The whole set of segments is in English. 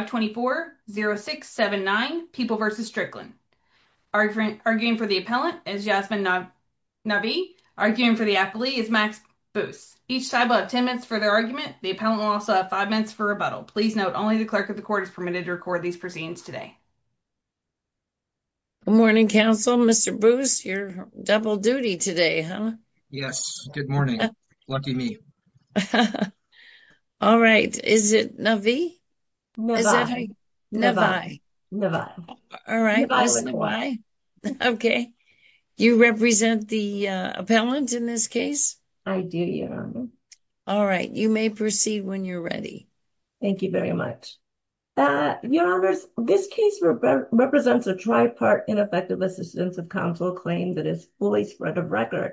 524-0679 People v. Strickland Arguing for the appellant is Jasmine Navi Arguing for the affilee is Max Booth Each side will have 10 minutes for their argument The appellant will also have 5 minutes for rebuttal Please note, only the clerk of the court is permitted to record these proceedings today Good morning, counsel Mr. Booth, you're double duty today, huh? Yes, good morning, lucky me All right, is it Navi? Navi, Navi, Navi All right, that's Navi, okay You represent the appellant in this case? I do, Your Honor All right, you may proceed when you're ready Thank you very much Your Honors, this case represents a tri-part ineffective assistance of counsel claim that is fully spread of record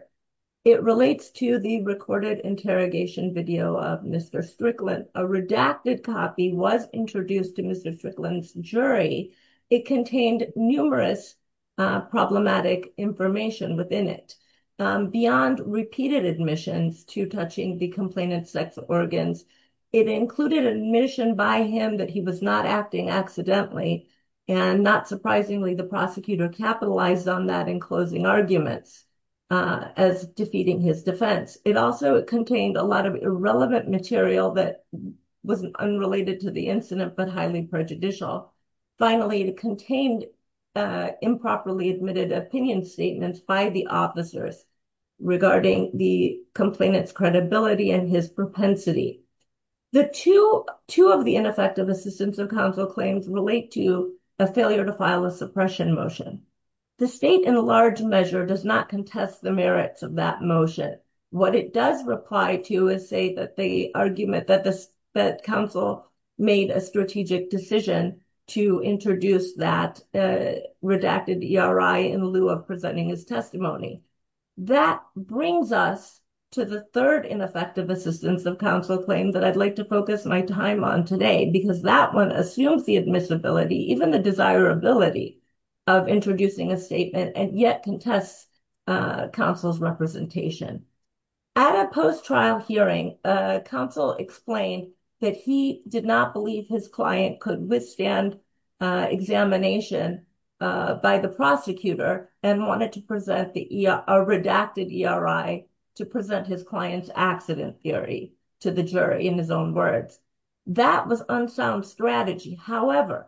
It relates to the recorded interrogation video of Mr. Strickland A redacted copy was introduced to Mr. Strickland's jury It contained numerous problematic information within it Beyond repeated admissions to touching the complainant's sex organs It included admission by him that he was not acting accidentally And not surprisingly, the prosecutor capitalized on that in closing arguments As defeating his defense It also contained a lot of irrelevant material that was unrelated to the incident but highly prejudicial Finally, it contained improperly admitted opinion statements by the officers Regarding the complainant's credibility and his propensity The two of the ineffective assistance of counsel claims relate to a failure to file a suppression motion The state in large measure does not contest the merits of that motion What it does reply to is say that the argument that this That counsel made a strategic decision to introduce that redacted ERI in lieu of presenting his testimony That brings us to the third ineffective assistance of counsel claim that I'd like to focus my time on today Because that one assumes the admissibility even the desirability of introducing a statement And yet contests counsel's representation At a post-trial hearing, counsel explained that he did not believe his client could withstand Examination by the prosecutor and wanted to present a redacted ERI To present his client's accident theory to the jury in his own words That was unsound strategy, however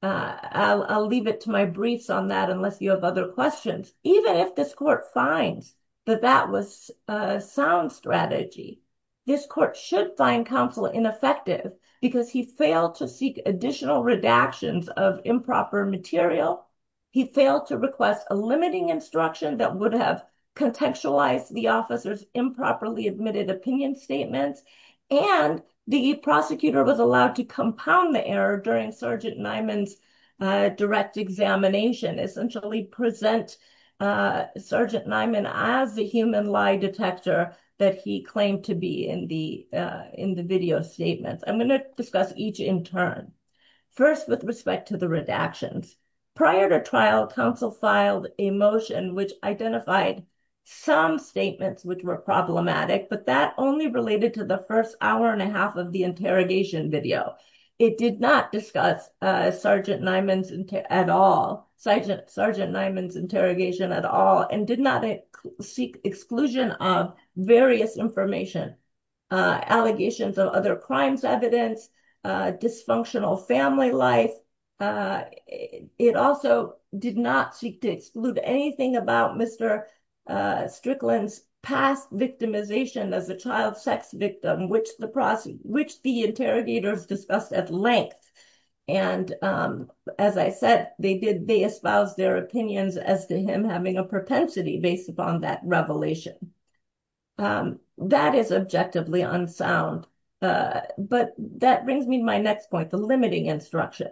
I'll leave it to my briefs on that unless you have other questions Even if this court finds that that was a sound strategy This court should find counsel ineffective because he failed to seek additional redactions of improper material He failed to request a limiting instruction that would have Contextualized the officer's improperly admitted opinion statements And the prosecutor was allowed to compound the error during Sergeant Nyman's direct examination Essentially present Sergeant Nyman as the human lie detector That he claimed to be in the video statements I'm going to discuss each in turn First, with respect to the redactions Prior to trial, counsel filed a motion which identified some statements which were problematic But that only related to the first hour and a half of the interrogation video It did not discuss Sergeant Nyman's interrogation at all And did not seek exclusion of various information Allegations of other crimes evidence, dysfunctional family life It also did not seek to exclude anything about Mr. Strickland's past victimization As a child sex victim, which the interrogators discussed at length And as I said, they espoused their opinions as to him having a propensity based upon that revelation That is objectively unsound But that brings me to my next point, the limiting instruction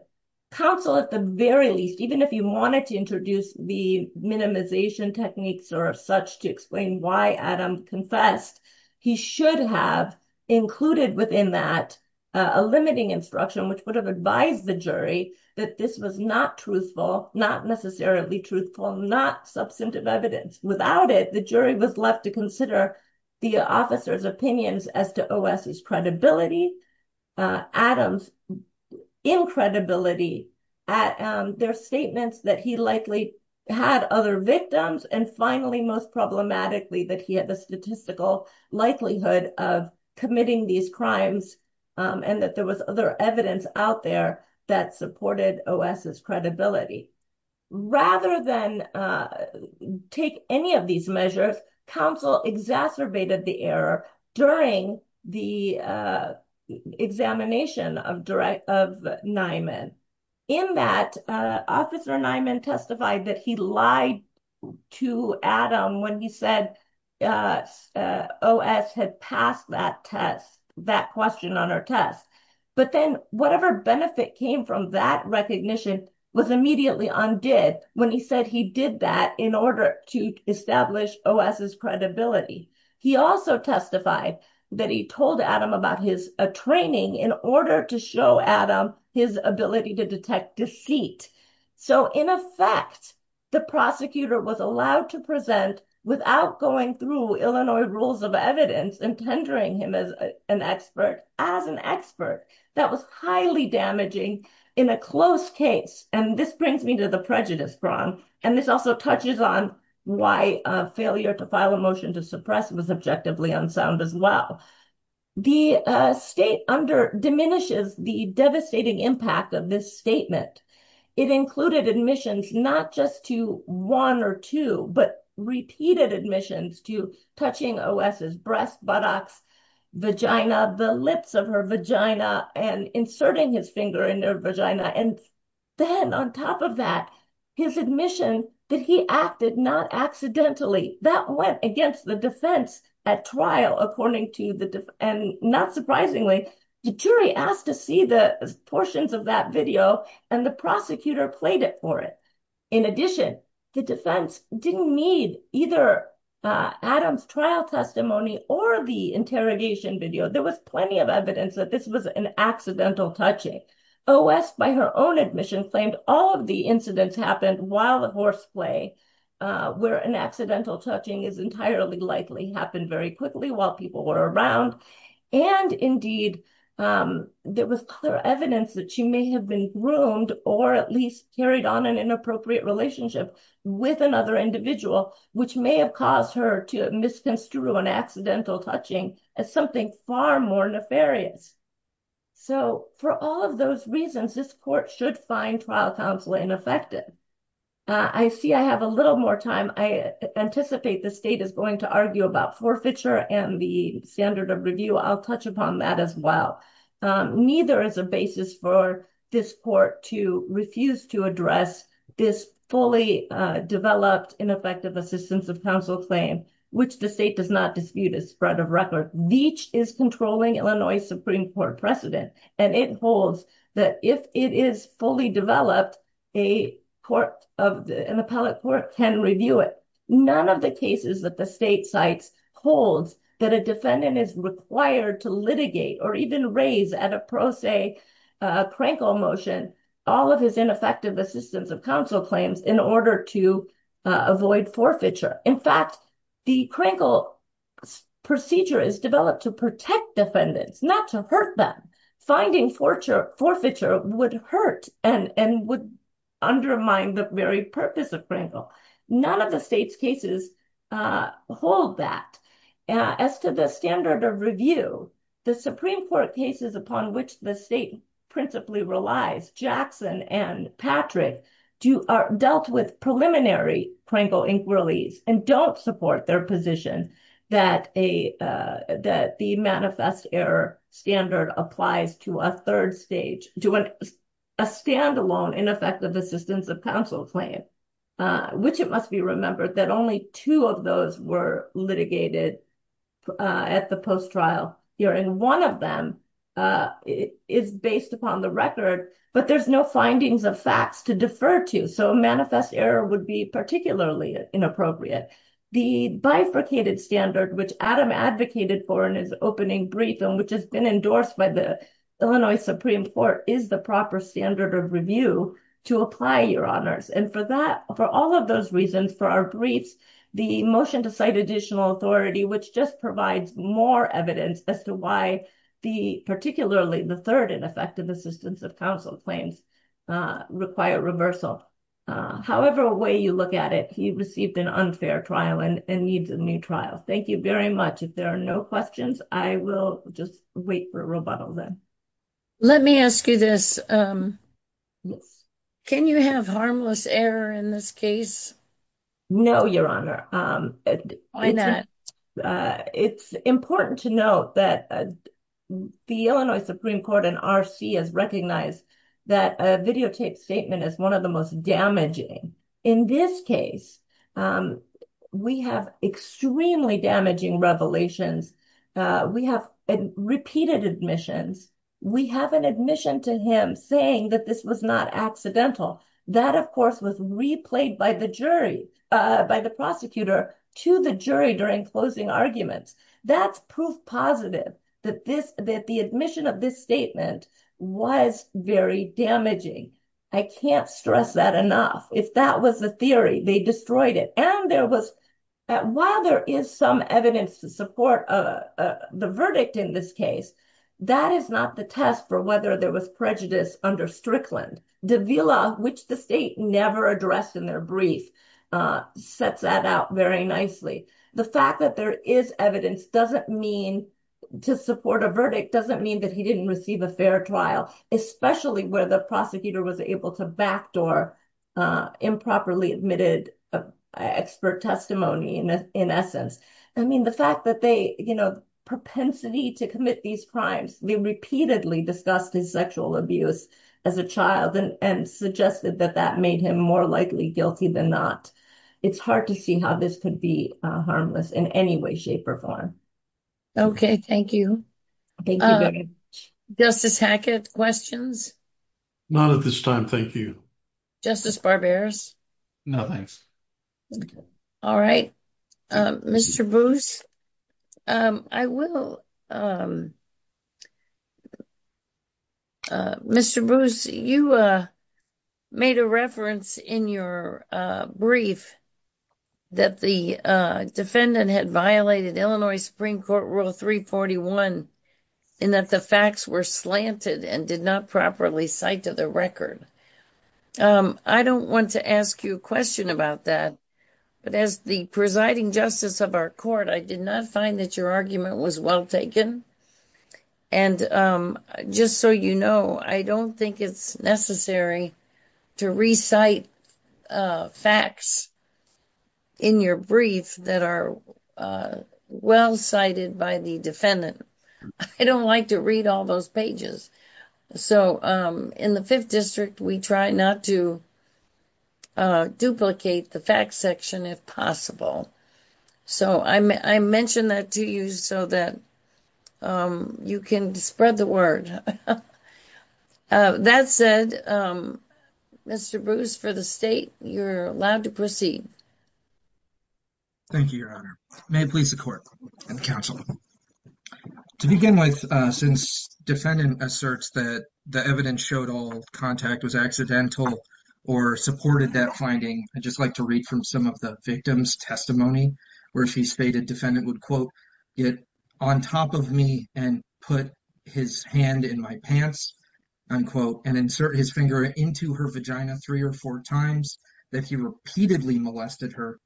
Counsel, at the very least, even if you wanted to introduce The minimization techniques or such to explain why Adam confessed He should have included within that a limiting instruction Which would have advised the jury that this was not truthful Not necessarily truthful, not substantive evidence Without it, the jury was left to consider the officer's opinions as to OS's credibility Adam's incredibility at their statements that he likely had other victims And finally, most problematically, that he had the statistical likelihood of committing these crimes And that there was other evidence out there that supported OS's credibility Rather than take any of these measures Counsel exacerbated the error during the examination of Nyman In that, Officer Nyman testified that he lied to Adam when he said OS had passed that test, that question on her test But then whatever benefit came from that recognition was immediately undid When he said he did that in order to establish OS's credibility He also testified that he told Adam about his training In order to show Adam his ability to detect deceit So in effect, the prosecutor was allowed to present Without going through Illinois rules of evidence And tendering him as an expert That was highly damaging in a close case And this brings me to the prejudice prong And this also touches on why a failure to file a motion to suppress Was objectively unsound as well The state diminishes the devastating impact of this statement It included admissions not just to one or two But repeated admissions to touching OS's breast, buttocks, vagina The lips of her vagina And inserting his finger in her vagina And then on top of that, his admission that he acted not accidentally That went against the defense at trial And not surprisingly, the jury asked to see the portions of that video And the prosecutor played it for it In addition, the defense didn't need either Adam's trial testimony Or the interrogation video There was plenty of evidence that this was an accidental touching OS, by her own admission, claimed all of the incidents happened while at horseplay Where an accidental touching is entirely likely Happened very quickly while people were around And indeed, there was clear evidence that she may have been groomed Or at least carried on an inappropriate relationship with another individual Which may have caused her to misconstrue an accidental touching As something far more nefarious So for all of those reasons, this court should find trial counsel ineffective I see I have a little more time I anticipate the state is going to argue about forfeiture And the standard of review I'll touch upon that as well Neither is a basis for this court to refuse to address This fully developed ineffective assistance of counsel claim Which the state does not dispute is spread of record Veach is controlling Illinois Supreme Court precedent And it holds that if it is fully developed A court of an appellate court can review it None of the cases that the state cites Holds that a defendant is required to litigate Or even raise at a pro se, a crankle motion All of his ineffective assistance of counsel claims In order to avoid forfeiture In fact, the crinkle procedure is developed to protect defendants Not to hurt them Finding forfeiture would hurt And would undermine the very purpose of crinkle None of the state's cases hold that As to the standard of review The Supreme Court cases upon which the state principally relies Jackson and Patrick Dealt with preliminary crinkle inquiries And don't support their position That the manifest error standard applies to a third stage To a standalone ineffective assistance of counsel claim Which it must be remembered that only two of those Were litigated at the post-trial hearing One of them is based upon the record But there's no findings of facts to defer to So a manifest error would be particularly inappropriate The bifurcated standard which Adam advocated for In his opening brief and which has been endorsed By the Illinois Supreme Court Is the proper standard of review to apply your honors And for all of those reasons, for our briefs The motion to cite additional authority Which just provides more evidence As to why particularly the third Effective assistance of counsel claims require reversal However way you look at it He received an unfair trial and needs a new trial Thank you very much If there are no questions, I will just wait for a rebuttal then Let me ask you this Can you have harmless error in this case? No, your honor It's important to note that The Illinois Supreme Court and R.C. has recognized That a videotaped statement is one of the most damaging In this case, we have extremely damaging revelations We have repeated admissions We have an admission to him saying that this was not accidental That of course was replayed by the jury By the prosecutor to the jury during closing arguments That's proof positive that this That the admission of this statement was very damaging I can't stress that enough If that was the theory, they destroyed it And there was, while there is some evidence to support The verdict in this case That is not the test for whether there was prejudice under Strickland Davila, which the state never addressed in their brief Sets that out very nicely The fact that there is evidence doesn't mean To support a verdict doesn't mean that he didn't receive a fair trial Especially where the prosecutor was able to backdoor Improperly admitted expert testimony in essence I mean the fact that they, you know Propensity to commit these crimes They repeatedly discussed his sexual abuse as a child And suggested that that made him more likely guilty than not It's hard to see how this could be harmless in any way, shape, or form Okay, thank you Justice Hackett, questions? None at this time, thank you Justice Barberis? No, thanks All right, Mr. Bruce, I will Um, Mr. Bruce, you made a reference in your brief That the defendant had violated Illinois Supreme Court Rule 341 And that the facts were slanted and did not properly cite to the record I don't want to ask you a question about that But as the presiding justice of our court I did not find that your argument was well taken And just so you know, I don't think it's necessary to recite facts In your brief that are well cited by the defendant I don't like to read all those pages So in the Fifth District, we try not to duplicate the facts section if possible So I mentioned that to you so that you can spread the word That said, Mr. Bruce, for the state, you're allowed to proceed Thank you, Your Honor May it please the court and the counsel To begin with, since defendant asserts that the evidence showed all contact was accidental Or supported that finding I'd just like to read from some of the victim's testimony Where she stated defendant would, quote, Get on top of me and put his hand in my pants, unquote And insert his finger into her vagina three or four times That he repeatedly molested her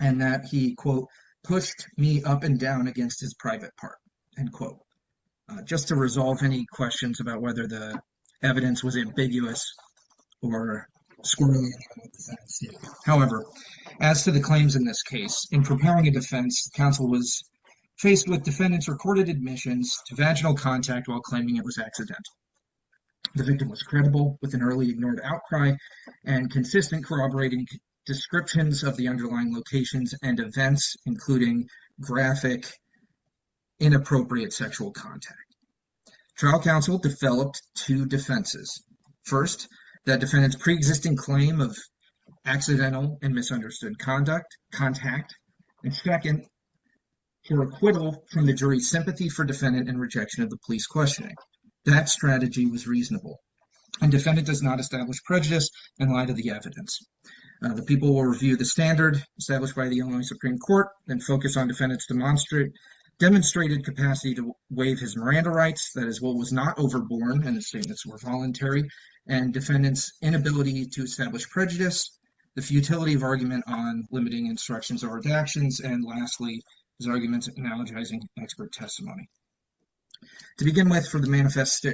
And that he, quote, pushed me up and down against his private part, unquote Just to resolve any questions about whether the evidence was ambiguous Or squirrelly However, as to the claims in this case In preparing a defense, counsel was faced with defendant's recorded admissions To vaginal contact while claiming it was accidental The victim was credible with an early ignored outcry And consistent corroborating descriptions of the underlying locations and events Including graphic inappropriate sexual contact Trial counsel developed two defenses First, that defendant's pre-existing claim of accidental and misunderstood conduct, contact And second, her acquittal from the jury's sympathy for defendant And rejection of the police questioning That strategy was reasonable And defendant does not establish prejudice in light of the evidence The people will review the standard established by the Illinois Supreme Court And focus on defendant's demonstrated capacity to waive his Miranda rights That his will was not overborne and the statements were voluntary And defendant's inability to establish prejudice The futility of argument on limiting instructions or redactions And lastly, his arguments analogizing expert testimony To begin with, for the manifest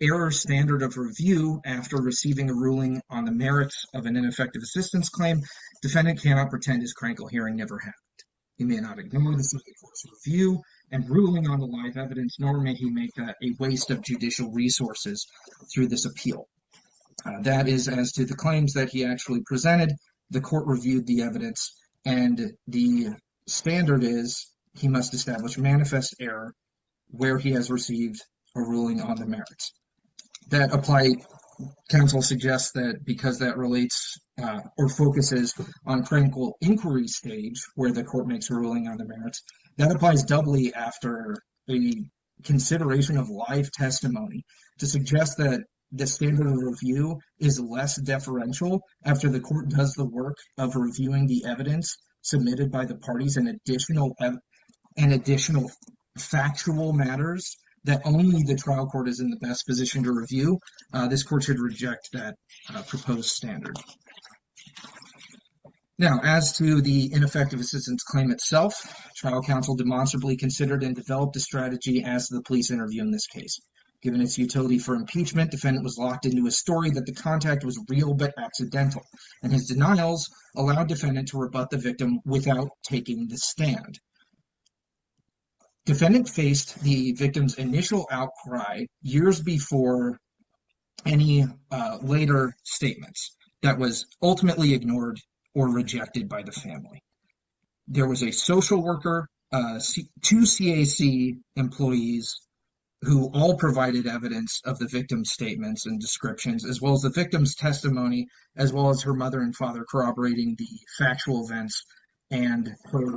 error standard of review After receiving a ruling on the merits of an ineffective assistance claim Defendant cannot pretend his crankle hearing never happened He may not ignore the Supreme Court's review and ruling on the live evidence Nor may he make a waste of judicial resources through this appeal That is as to the claims that he actually presented The court reviewed the evidence and the standard is He must establish manifest error where he has received a ruling on the merits That apply, counsel suggests that because that relates Or focuses on crankle inquiry stage where the court makes a ruling on the merits That applies doubly after the consideration of live testimony To suggest that the standard of review is less deferential After the court does the work of reviewing the evidence Submitted by the parties and additional factual matters That only the trial court is in the best position to review This court should reject that proposed standard Now, as to the ineffective assistance claim itself Trial counsel demonstrably considered and developed a strategy As to the police interview in this case Given its utility for impeachment Defendant was locked into a story that the contact was real but accidental And his denials allowed defendant to rebut the victim without taking the stand Defendant faced the victim's initial outcry years before any later statements That was ultimately ignored or rejected by the family There was a social worker, two CAC employees Who all provided evidence of the victim's statements and descriptions As well as the victim's testimony As well as her mother and father corroborating the factual events And her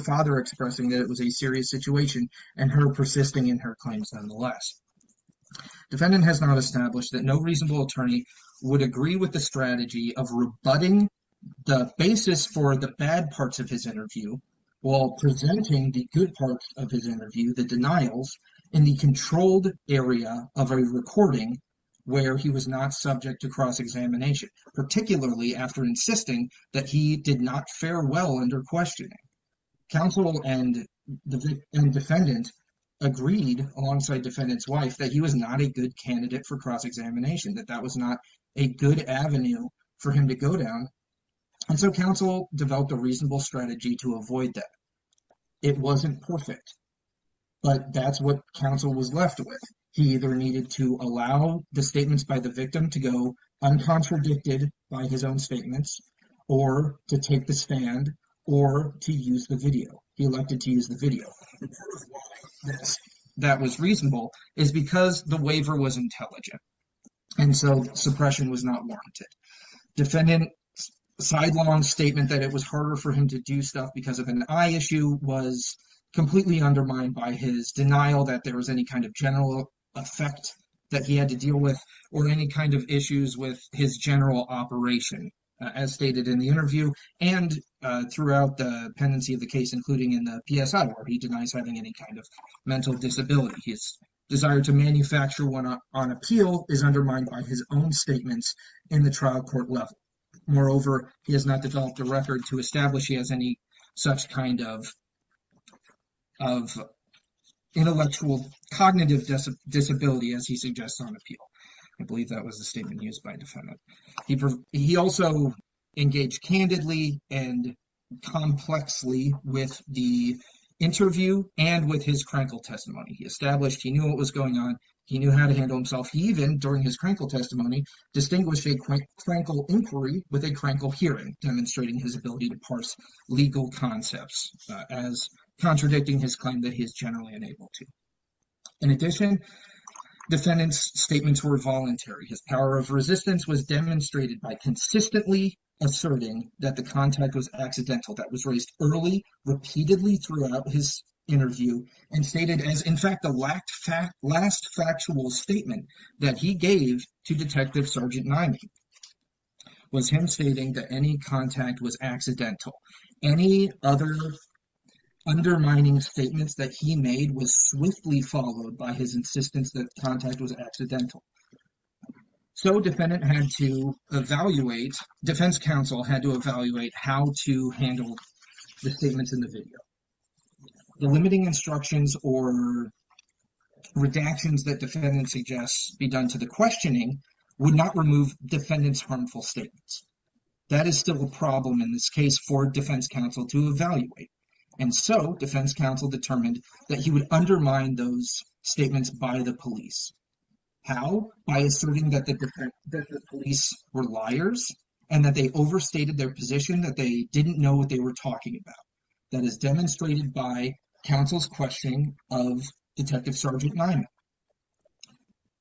father expressing that it was a serious situation And her persisting in her claims nonetheless Defendant has now established that no reasonable attorney Would agree with the strategy of rebutting the basis for the bad parts of his interview While presenting the good parts of his interview The denials in the controlled area of a recording Where he was not subject to cross-examination Particularly after insisting that he did not fare well under questioning Counsel and defendant agreed alongside defendant's wife That he was not a good candidate for cross-examination That that was not a good avenue for him to go down And so counsel developed a reasonable strategy to avoid that It wasn't perfect But that's what counsel was left with He either needed to allow the statements by the victim to go Uncontradicted by his own statements Or to take the stand or to use the video He elected to use the video That was reasonable is because the waiver was intelligent And so suppression was not warranted Defendant's sidelong statement that it was harder for him to do stuff Because of an eye issue was completely undermined by his denial That there was any kind of general effect that he had to deal with Or any kind of issues with his general operation As stated in the interview And throughout the pendency of the case Including in the PSI where he denies having any kind of mental disability His desire to manufacture one on appeal Is undermined by his own statements in the trial court level Moreover, he has not developed a record to establish He has any such kind of intellectual cognitive disability As he suggests on appeal I believe that was the statement used by defendant He also engaged candidly and complexly with the interview And with his critical testimony He established he knew what was going on He knew how to handle himself He even during his critical testimony Distinguished a critical inquiry with a critical hearing Demonstrating his ability to parse legal concepts As contradicting his claim that he is generally unable to In addition, defendant's statements were voluntary His power of resistance was demonstrated by consistently Asserting that the contact was accidental That was raised early repeatedly throughout his interview And stated as in fact the last factual statement That he gave to detective sergeant Nyman Was him stating that any contact was accidental Any other undermining statements that he made Was swiftly followed by his insistence that contact was accidental So defendant had to evaluate Defense counsel had to evaluate How to handle the statements in the video The limiting instructions or redactions that defendant suggests Be done to the questioning Would not remove defendant's harmful statements That is still a problem in this case for defense counsel to evaluate And so defense counsel determined That he would undermine those statements by the police How? By asserting that the police were liars And that they overstated their position That they didn't know what they were talking about That is demonstrated by counsel's question of detective sergeant Nyman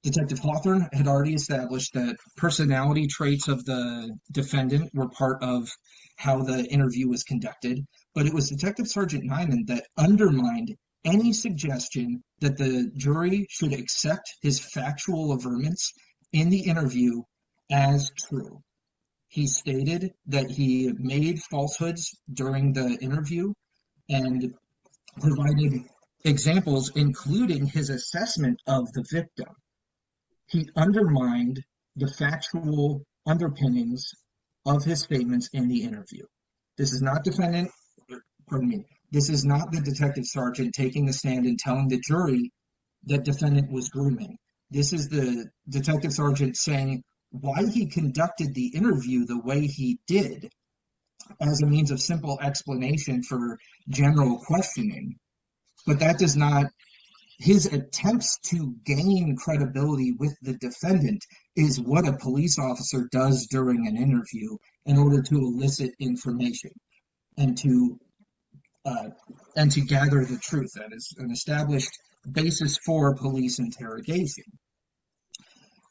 Detective Hawthorne had already established that Personality traits of the defendant were part of How the interview was conducted But it was detective sergeant Nyman that undermined Any suggestion that the jury should accept His factual averments in the interview as true He stated that he made falsehoods during the interview And providing examples including his assessment of the victim He undermined the factual underpinnings of his statements in the interview This is not defendant Pardon me This is not the detective sergeant taking a stand And telling the jury that defendant was grooming This is the detective sergeant saying Why he conducted the interview the way he did As a means of simple explanation for general questioning But that does not His attempts to gain credibility with the defendant Is what a police officer does during an interview In order to elicit information And to gather the truth That is an established basis for police interrogation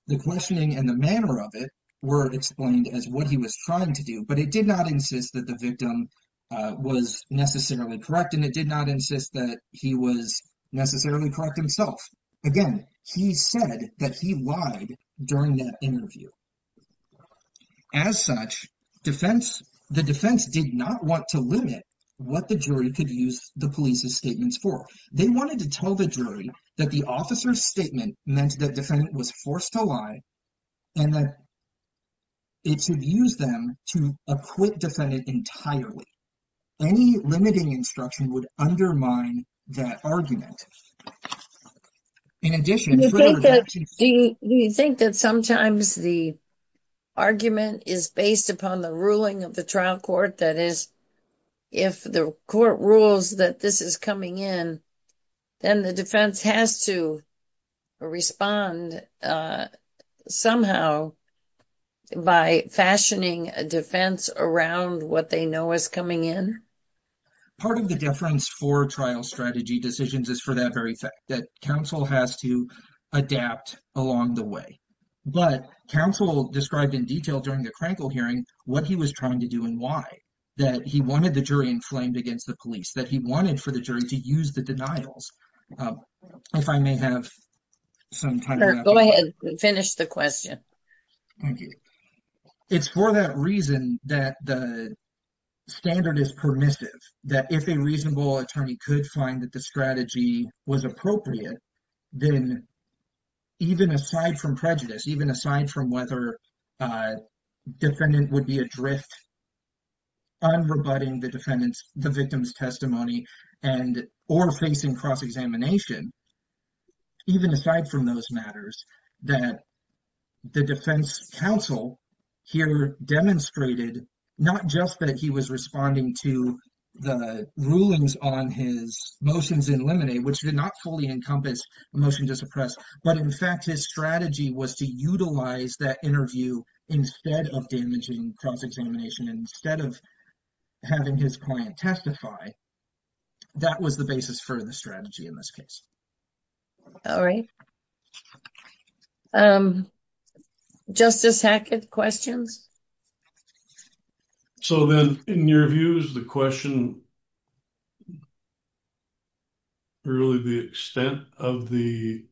The questioning and the manner of it Were explained as what he was trying to do But it did not insist that the victim Was necessarily correct And it did not insist that he was necessarily correct himself Again he said that he lied during that interview As such defense The defense did not want to limit What the jury could use the police's statements for They wanted to tell the jury that the officer's statement Meant that defendant was forced to lie And that it should use them to acquit defendant entirely Any limiting instruction would undermine that argument In addition Do you think that sometimes the argument Is based upon the ruling of the trial court That is if the court rules that this is coming in Then the defense has to respond Somehow by fashioning a defense Around what they know is coming in Part of the difference for trial strategy decisions Is for that very fact That counsel has to adapt along the way But counsel described in detail during the Krankel hearing What he was trying to do and why That he wanted the jury inflamed against the police That he wanted for the jury to use the denials If I may have some time Go ahead and finish the question Thank you It's for that reason that the standard is permissive That if a reasonable attorney could find that the strategy was appropriate Then even aside from prejudice Even aside from whether defendant would be adrift On rebutting the defendant's the victim's testimony And or facing cross-examination Even aside from those matters that the defense counsel here demonstrated Not just that he was responding to the rulings on his motions in limine Which did not fully encompass a motion to suppress But in fact his strategy was to utilize that interview Instead of damaging cross-examination Instead of having his client testify That was the basis for the strategy in this case All right Justice Hackett questions So then in your views the question Really the extent of the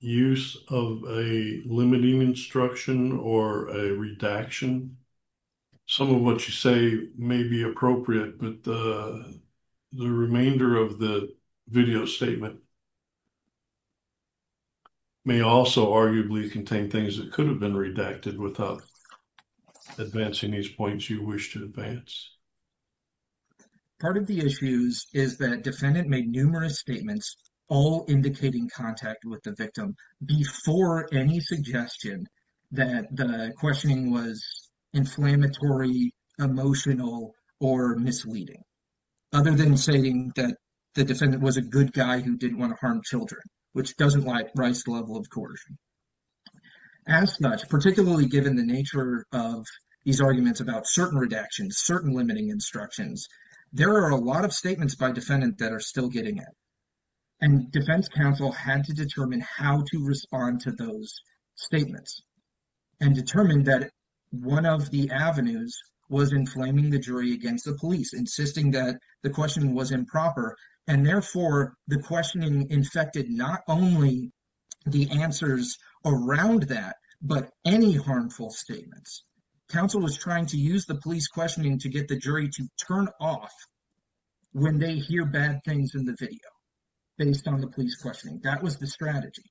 use of a limiting instruction Or a redaction Some of what you say may be appropriate But the remainder of the video statement May also arguably contain things that could have been redacted Without advancing these points you wish to advance Part of the issues is that defendant made numerous statements All indicating contact with the victim Before any suggestion that the questioning was inflammatory Emotional or misleading Other than saying that the defendant was a good guy Who didn't want to harm children Which doesn't like Rice's level of coercion As such particularly given the nature of these arguments About certain redactions certain limiting instructions There are a lot of statements by defendant that are still getting it And defense counsel had to determine how to respond to those statements And determined that one of the avenues Was inflaming the jury against the police Insisting that the question was improper And therefore the questioning infected Not only the answers around that But any harmful statements Counsel was trying to use the police questioning To get the jury to turn off When they hear bad things in the video Based on the police questioning that was the strategy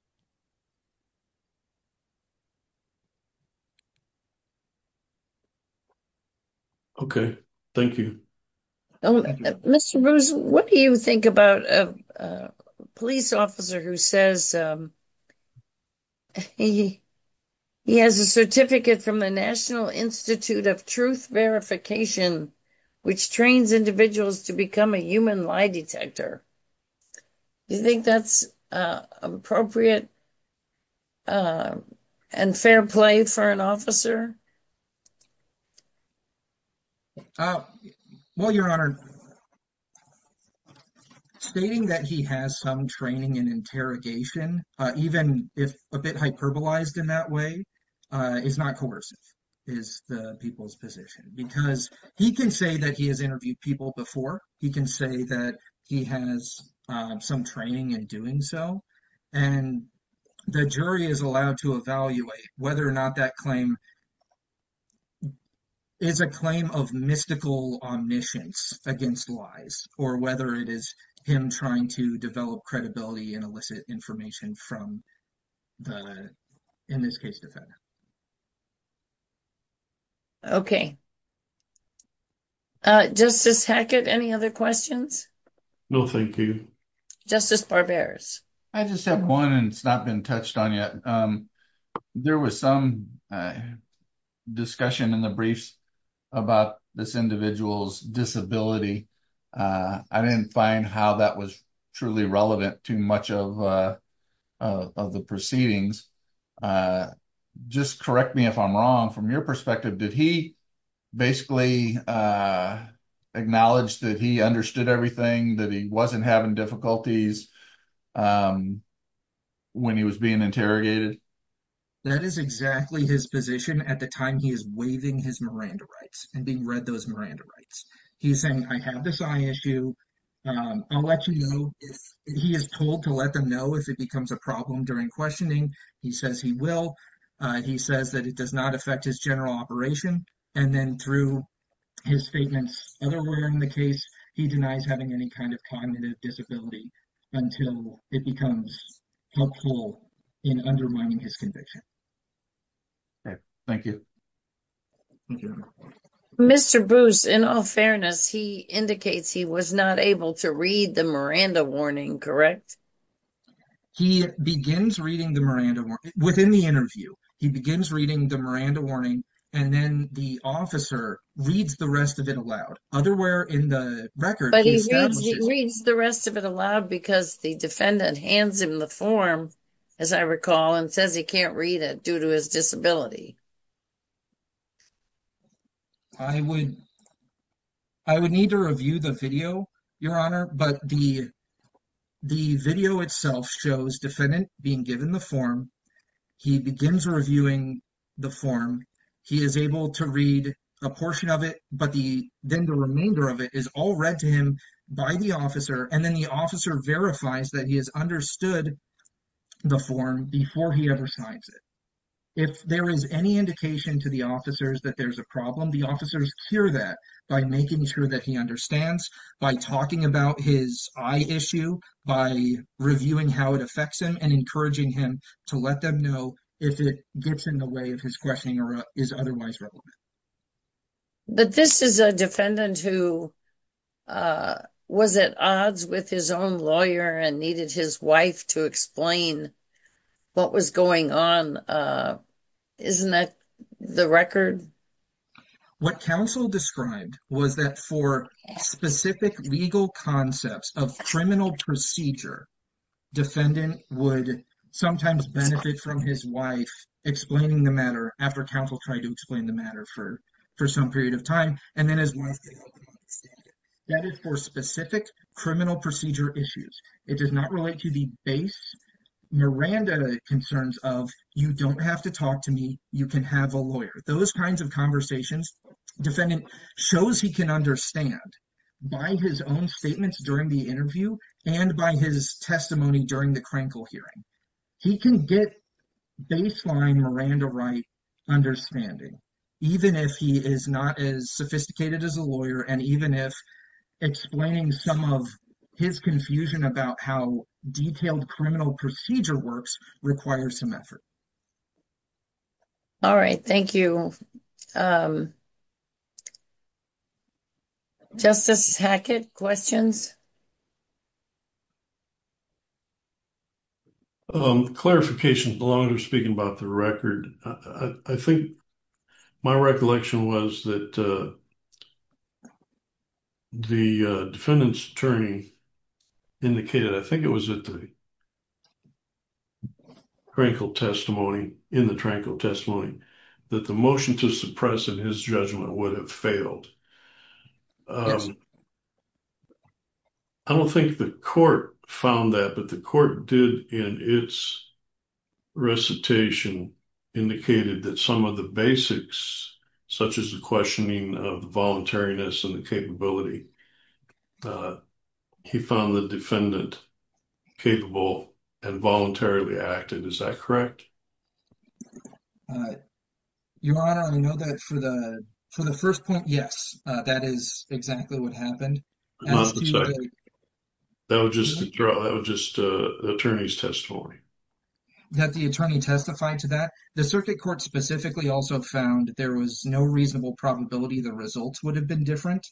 Okay, thank you Mr. Bruce, what do you think about a police officer who says He has a certificate from the National Institute of Truth Verification Which trains individuals to become a human lie detector Do you think that's appropriate And fair play for an officer? Well, your honor Stating that he has some training in interrogation Even if a bit hyperbolized in that way Is not coercive is the people's position Because he can say that he has interviewed people before He can say that he has some training in doing so And the jury is allowed to evaluate whether or not that claim Is a claim of mystical omniscience against lies Or whether it is him trying to develop credibility And elicit information from the, in this case, defendant Okay All right, Justice Hackett, any other questions? No, thank you Justice Barberas I just have one and it's not been touched on yet There was some discussion in the briefs about this individual's disability I didn't find how that was truly relevant to much of the proceedings Just correct me if I'm wrong from your perspective Did he basically acknowledge that he understood everything That he wasn't having difficulties when he was being interrogated? That is exactly his position at the time he is waiving his Miranda rights And being read those Miranda rights He's saying I have this eye issue I'll let you know if he is told to let them know If it becomes a problem during questioning He says he will He says that it does not affect his general operation And then through his statements otherwise in the case He denies having any kind of cognitive disability Until it becomes helpful in undermining his conviction Okay, thank you Mr. Bruce, in all fairness, he indicates he was not able to read the Miranda warning, correct? Yes, he begins reading the Miranda warning within the interview He begins reading the Miranda warning And then the officer reads the rest of it aloud Otherwhere in the record But he reads the rest of it aloud Because the defendant hands him the form, as I recall And says he can't read it due to his disability I would need to review the video, your honor But the video itself shows defendant being given the form He begins reviewing the form He is able to read a portion of it But then the remainder of it is all read to him by the officer And then the officer verifies that he has understood the form Before he ever signs it If there is any indication to the officers that there's a problem The officers cure that by making sure that he understands By talking about his eye issue By reviewing how it affects him And encouraging him to let them know If it gets in the way of his questioning or is otherwise relevant But this is a defendant who was at odds with his own lawyer And needed his wife to explain what was going on Isn't that the record? What counsel described was that For specific legal concepts of criminal procedure Defendant would sometimes benefit from his wife Explaining the matter after counsel tried to explain the matter For some period of time And then his wife didn't understand it That is for specific criminal procedure issues It does not relate to the base Miranda concerns of You don't have to talk to me You can have a lawyer Those kinds of conversations Defendant shows he can understand By his own statements during the interview And by his testimony during the Krenkel hearing He can get baseline Miranda right understanding Even if he is not as sophisticated as a lawyer And even if explaining some of his confusion About how detailed criminal procedure works Requires some effort All right, thank you Justice Hackett, questions? Clarification, longer speaking about the record I think my recollection was that The defendant's attorney indicated I think it was at the Krenkel testimony In the Krenkel testimony That the motion to suppress in his judgment would have failed I don't think the court found that But the court did in its recitation Indicated that some of the basics Such as the questioning of the voluntariness and the capability But he found the defendant capable and voluntarily acted Is that correct? Your honor, I know that for the for the first point Yes, that is exactly what happened That was just a draw That was just the attorney's testimony That the attorney testified to that The circuit court specifically also found There was no reasonable probability The results would have been different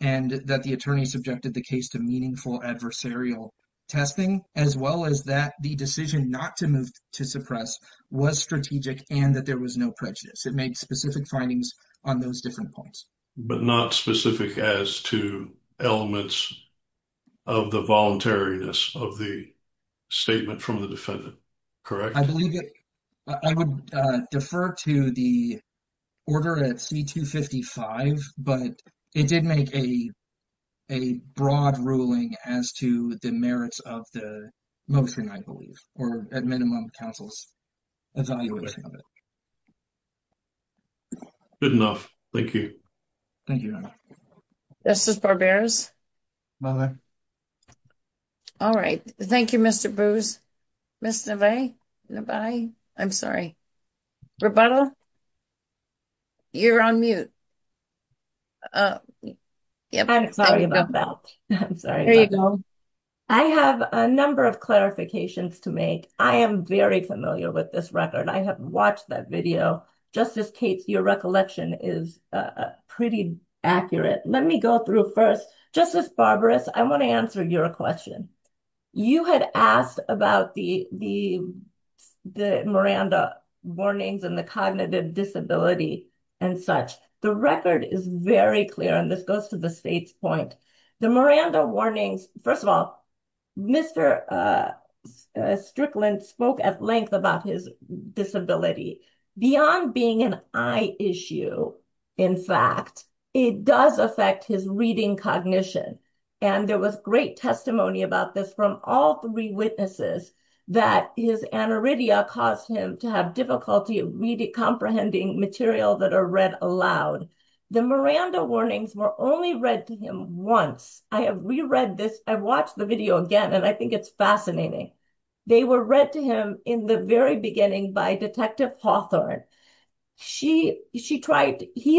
And that the attorney subjected the case to meaningful adversarial testing As well as that the decision not to move to suppress Was strategic and that there was no prejudice It made specific findings on those different points But not specific as to elements of the voluntariness Of the statement from the defendant, correct? I believe it I would defer to the order at C-255 But it did make a a broad ruling As to the merits of the motion, I believe Or at minimum counsel's evaluation of it Good enough, thank you Thank you, your honor Justice Barbera All right, thank you, Mr. Bruce Mr. Nevaeh, Nevaeh, I'm sorry Roberta, you're on mute I'm sorry about that I have a number of clarifications to make I am very familiar with this record I have watched that video Justice Cates, your recollection is pretty accurate Let me go through first Justice Barbera, I want to answer your question You had asked about the Miranda warnings And the cognitive disability and such The record is very clear And this goes to the state's point The Miranda warnings, first of all Mr. Strickland spoke at length about his disability Beyond being an eye issue, in fact It does affect his reading cognition And there was great testimony about this From all three witnesses That his aniridia caused him to have difficulty Comprehending material that are read aloud The Miranda warnings were only read to him once I have re-read this I've watched the video again And I think it's fascinating They were read to him in the very beginning By Detective Hawthorne He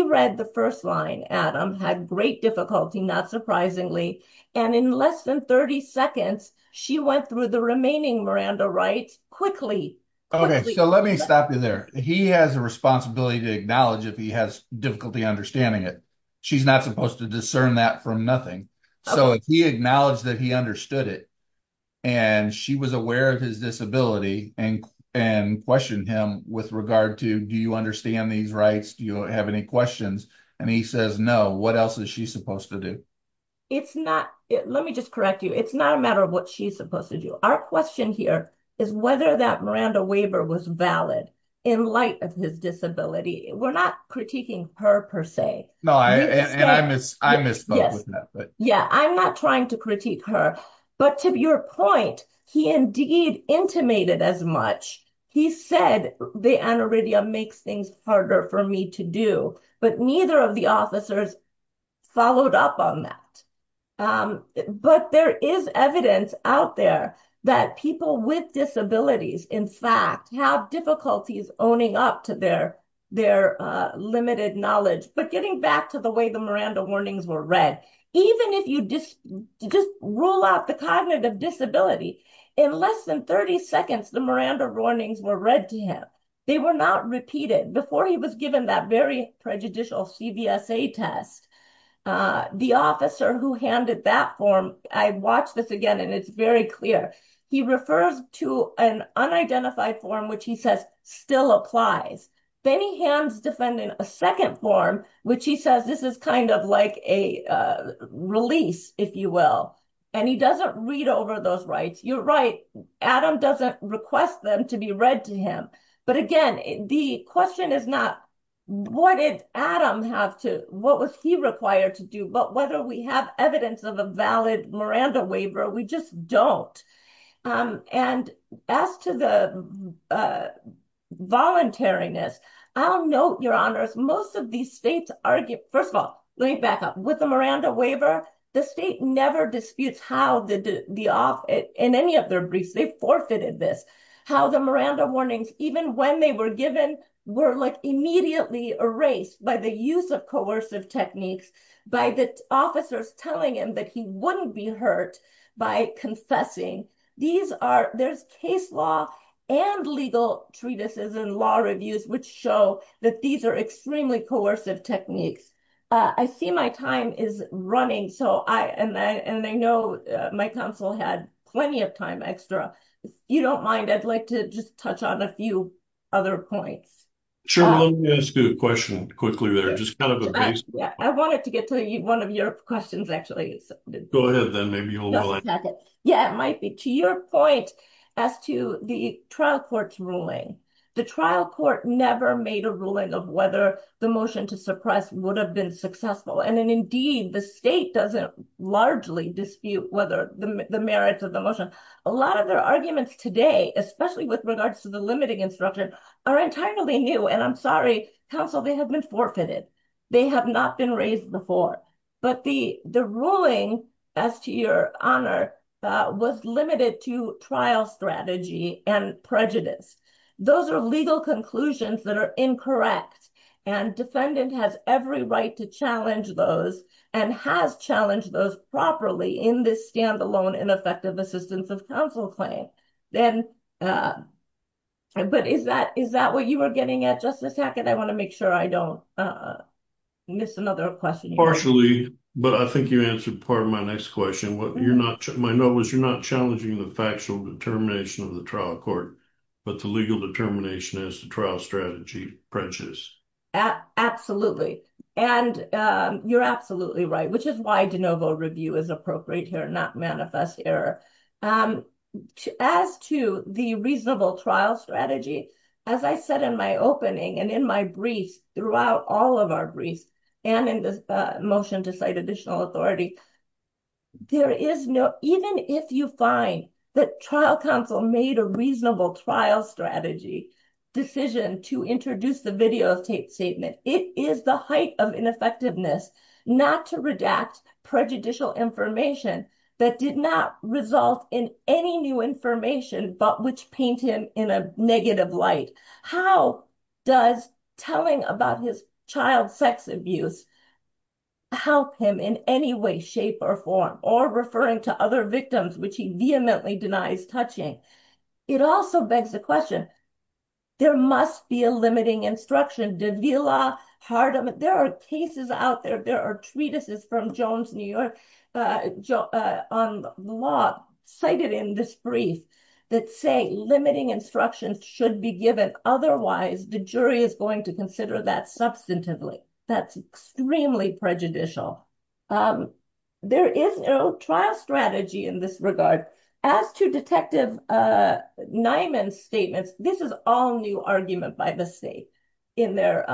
read the first line, Adam Had great difficulty, not surprisingly And in less than 30 seconds She went through the remaining Miranda rights quickly So let me stop you there He has a responsibility to acknowledge If he has difficulty understanding it She's not supposed to discern that from nothing So he acknowledged that he understood it And she was aware of his disability And questioned him with regard to Do you understand these rights? Do you have any questions? And he says no What else is she supposed to do? Let me just correct you It's not a matter of what she's supposed to do Our question here is Whether that Miranda waiver was valid In light of his disability We're not critiquing her, per se No, and I misspoke with that Yeah, I'm not trying to critique her But to your point He indeed intimated as much He said the aniridia makes things harder for me to do But neither of the officers followed up on that But there is evidence out there That people with disabilities, in fact Have difficulties owning up to their limited knowledge But getting back to the way the Miranda warnings were read Even if you just rule out the cognitive disability In less than 30 seconds The Miranda warnings were read to him They were not repeated Before he was given that very prejudicial CVSA test The officer who handed that form I watched this again and it's very clear He refers to an unidentified form Which he says still applies Then he hands defendant a second form Which he says this is kind of like a release, if you will And he doesn't read over those rights You're right Adam doesn't request them to be read to him But again, the question is not What did Adam have to What was he required to do? But whether we have evidence of a valid Miranda waiver We just don't And as to the voluntariness I'll note, your honors Most of these states argue First of all, let me back up With the Miranda waiver The state never disputes how in any of their briefs They forfeited this How the Miranda warnings Even when they were given Were immediately erased By the use of coercive techniques By the officers telling him that he wouldn't be hurt By confessing These are There's case law and legal treatises and law reviews Which show that these are extremely coercive techniques I see my time is running And I know my counsel had plenty of time extra You don't mind I'd like to just touch on a few other points Sure, let me ask you a question quickly there Just kind of a basic I wanted to get to one of your questions actually Go ahead then, maybe you'll like it Yeah, it might be To your point As to the trial court's ruling The trial court never made a ruling of whether The motion to suppress would have been successful And then indeed the state doesn't largely dispute Whether the merits of the motion A lot of their arguments today Especially with regards to the limiting instruction Are entirely new And I'm sorry, counsel, they have been forfeited They have not been raised before But the ruling, as to your honor Was limited to trial strategy and prejudice Those are legal conclusions that are incorrect And defendant has every right to challenge those And has challenged those properly In this standalone ineffective assistance of counsel claim Then, but is that what you were getting at, Justice Hackett? I want to make sure I don't miss another question Partially, but I think you answered part of my next question My note was you're not challenging the factual determination of the trial court But the legal determination is the trial strategy prejudice Absolutely, and you're absolutely right Which is why de novo review is appropriate here Not manifest error And as to the reasonable trial strategy As I said in my opening and in my briefs Throughout all of our briefs And in this motion to cite additional authority There is no, even if you find that trial counsel Made a reasonable trial strategy decision To introduce the videotape statement It is the height of ineffectiveness Not to redact prejudicial information That did not result in any new information But which paint him in a negative light How does telling about his child's sex abuse Help him in any way, shape or form Or referring to other victims Which he vehemently denies touching It also begs the question There must be a limiting instruction Davila, Hardeman, there are cases out there There are treatises from Jones, New York On the law cited in this brief That say limiting instructions should be given Otherwise the jury is going to consider that substantively That's extremely prejudicial There is no trial strategy in this regard As to detective Nyman's statements This is all new argument by the state In their,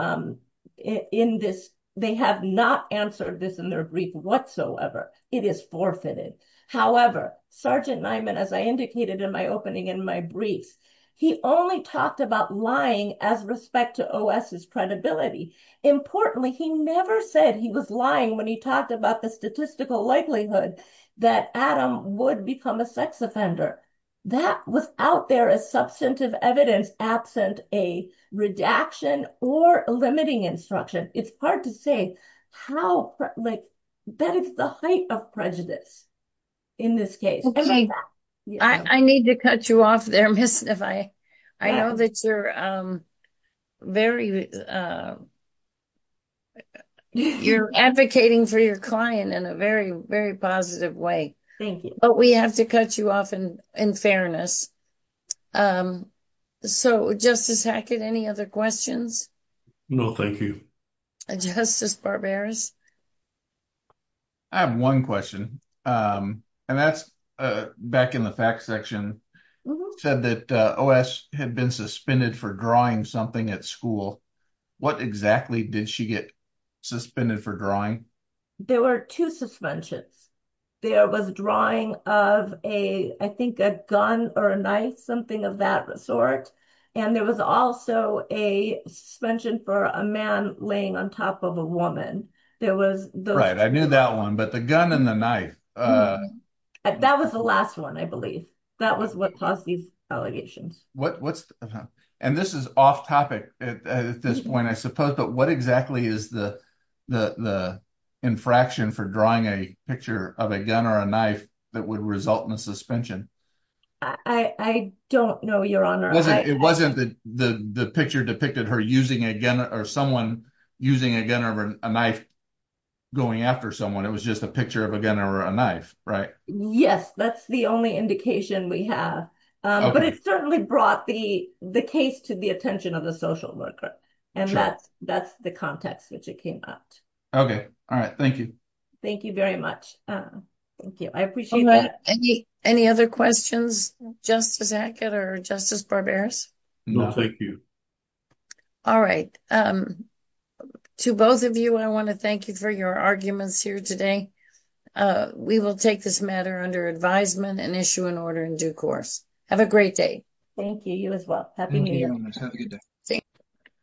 in this, they have not answered this In their brief whatsoever It is forfeited However, Sergeant Nyman As I indicated in my opening in my briefs He only talked about lying As respect to OS's credibility Importantly, he never said he was lying When he talked about the statistical likelihood That Adam would become a sex offender That was out there as substantive evidence Absent a redaction or limiting instruction It's hard to say how, like That is the height of prejudice in this case I need to cut you off there, Miss I know that you're very You're advocating for your client in a very, very positive way Thank you But we have to cut you off in fairness So, Justice Hackett, any other questions? No, thank you Justice Barberis I have one question And that's back in the facts section Said that OS had been suspended for drawing something at school What exactly did she get suspended for drawing? There were two suspensions There was drawing of a, I think a gun or a knife Something of that sort And there was also a suspension for a man Laying on top of a woman There was Right, I knew that one But the gun and the knife That was the last one, I believe That was what caused these allegations And this is off topic at this point, I suppose But what exactly is the infraction for drawing a picture Of a gun or a knife that would result in a suspension? I don't know, Your Honor It wasn't the picture depicted her using a gun Or someone using a gun or a knife going after someone It was just a picture of a gun or a knife, right? Yes, that's the only indication we have But it certainly brought the case to the attention of the social worker And that's the context which it came out Okay, all right, thank you Thank you very much Thank you, I appreciate that Any other questions, Justice Hackett or Justice Barberis? No, thank you All right, to both of you I want to thank you for your arguments here today We will take this matter under advisement and issue an order in due course Have a great day Thank you, you as well Happy New Year Thank you, Your Honor, have a good day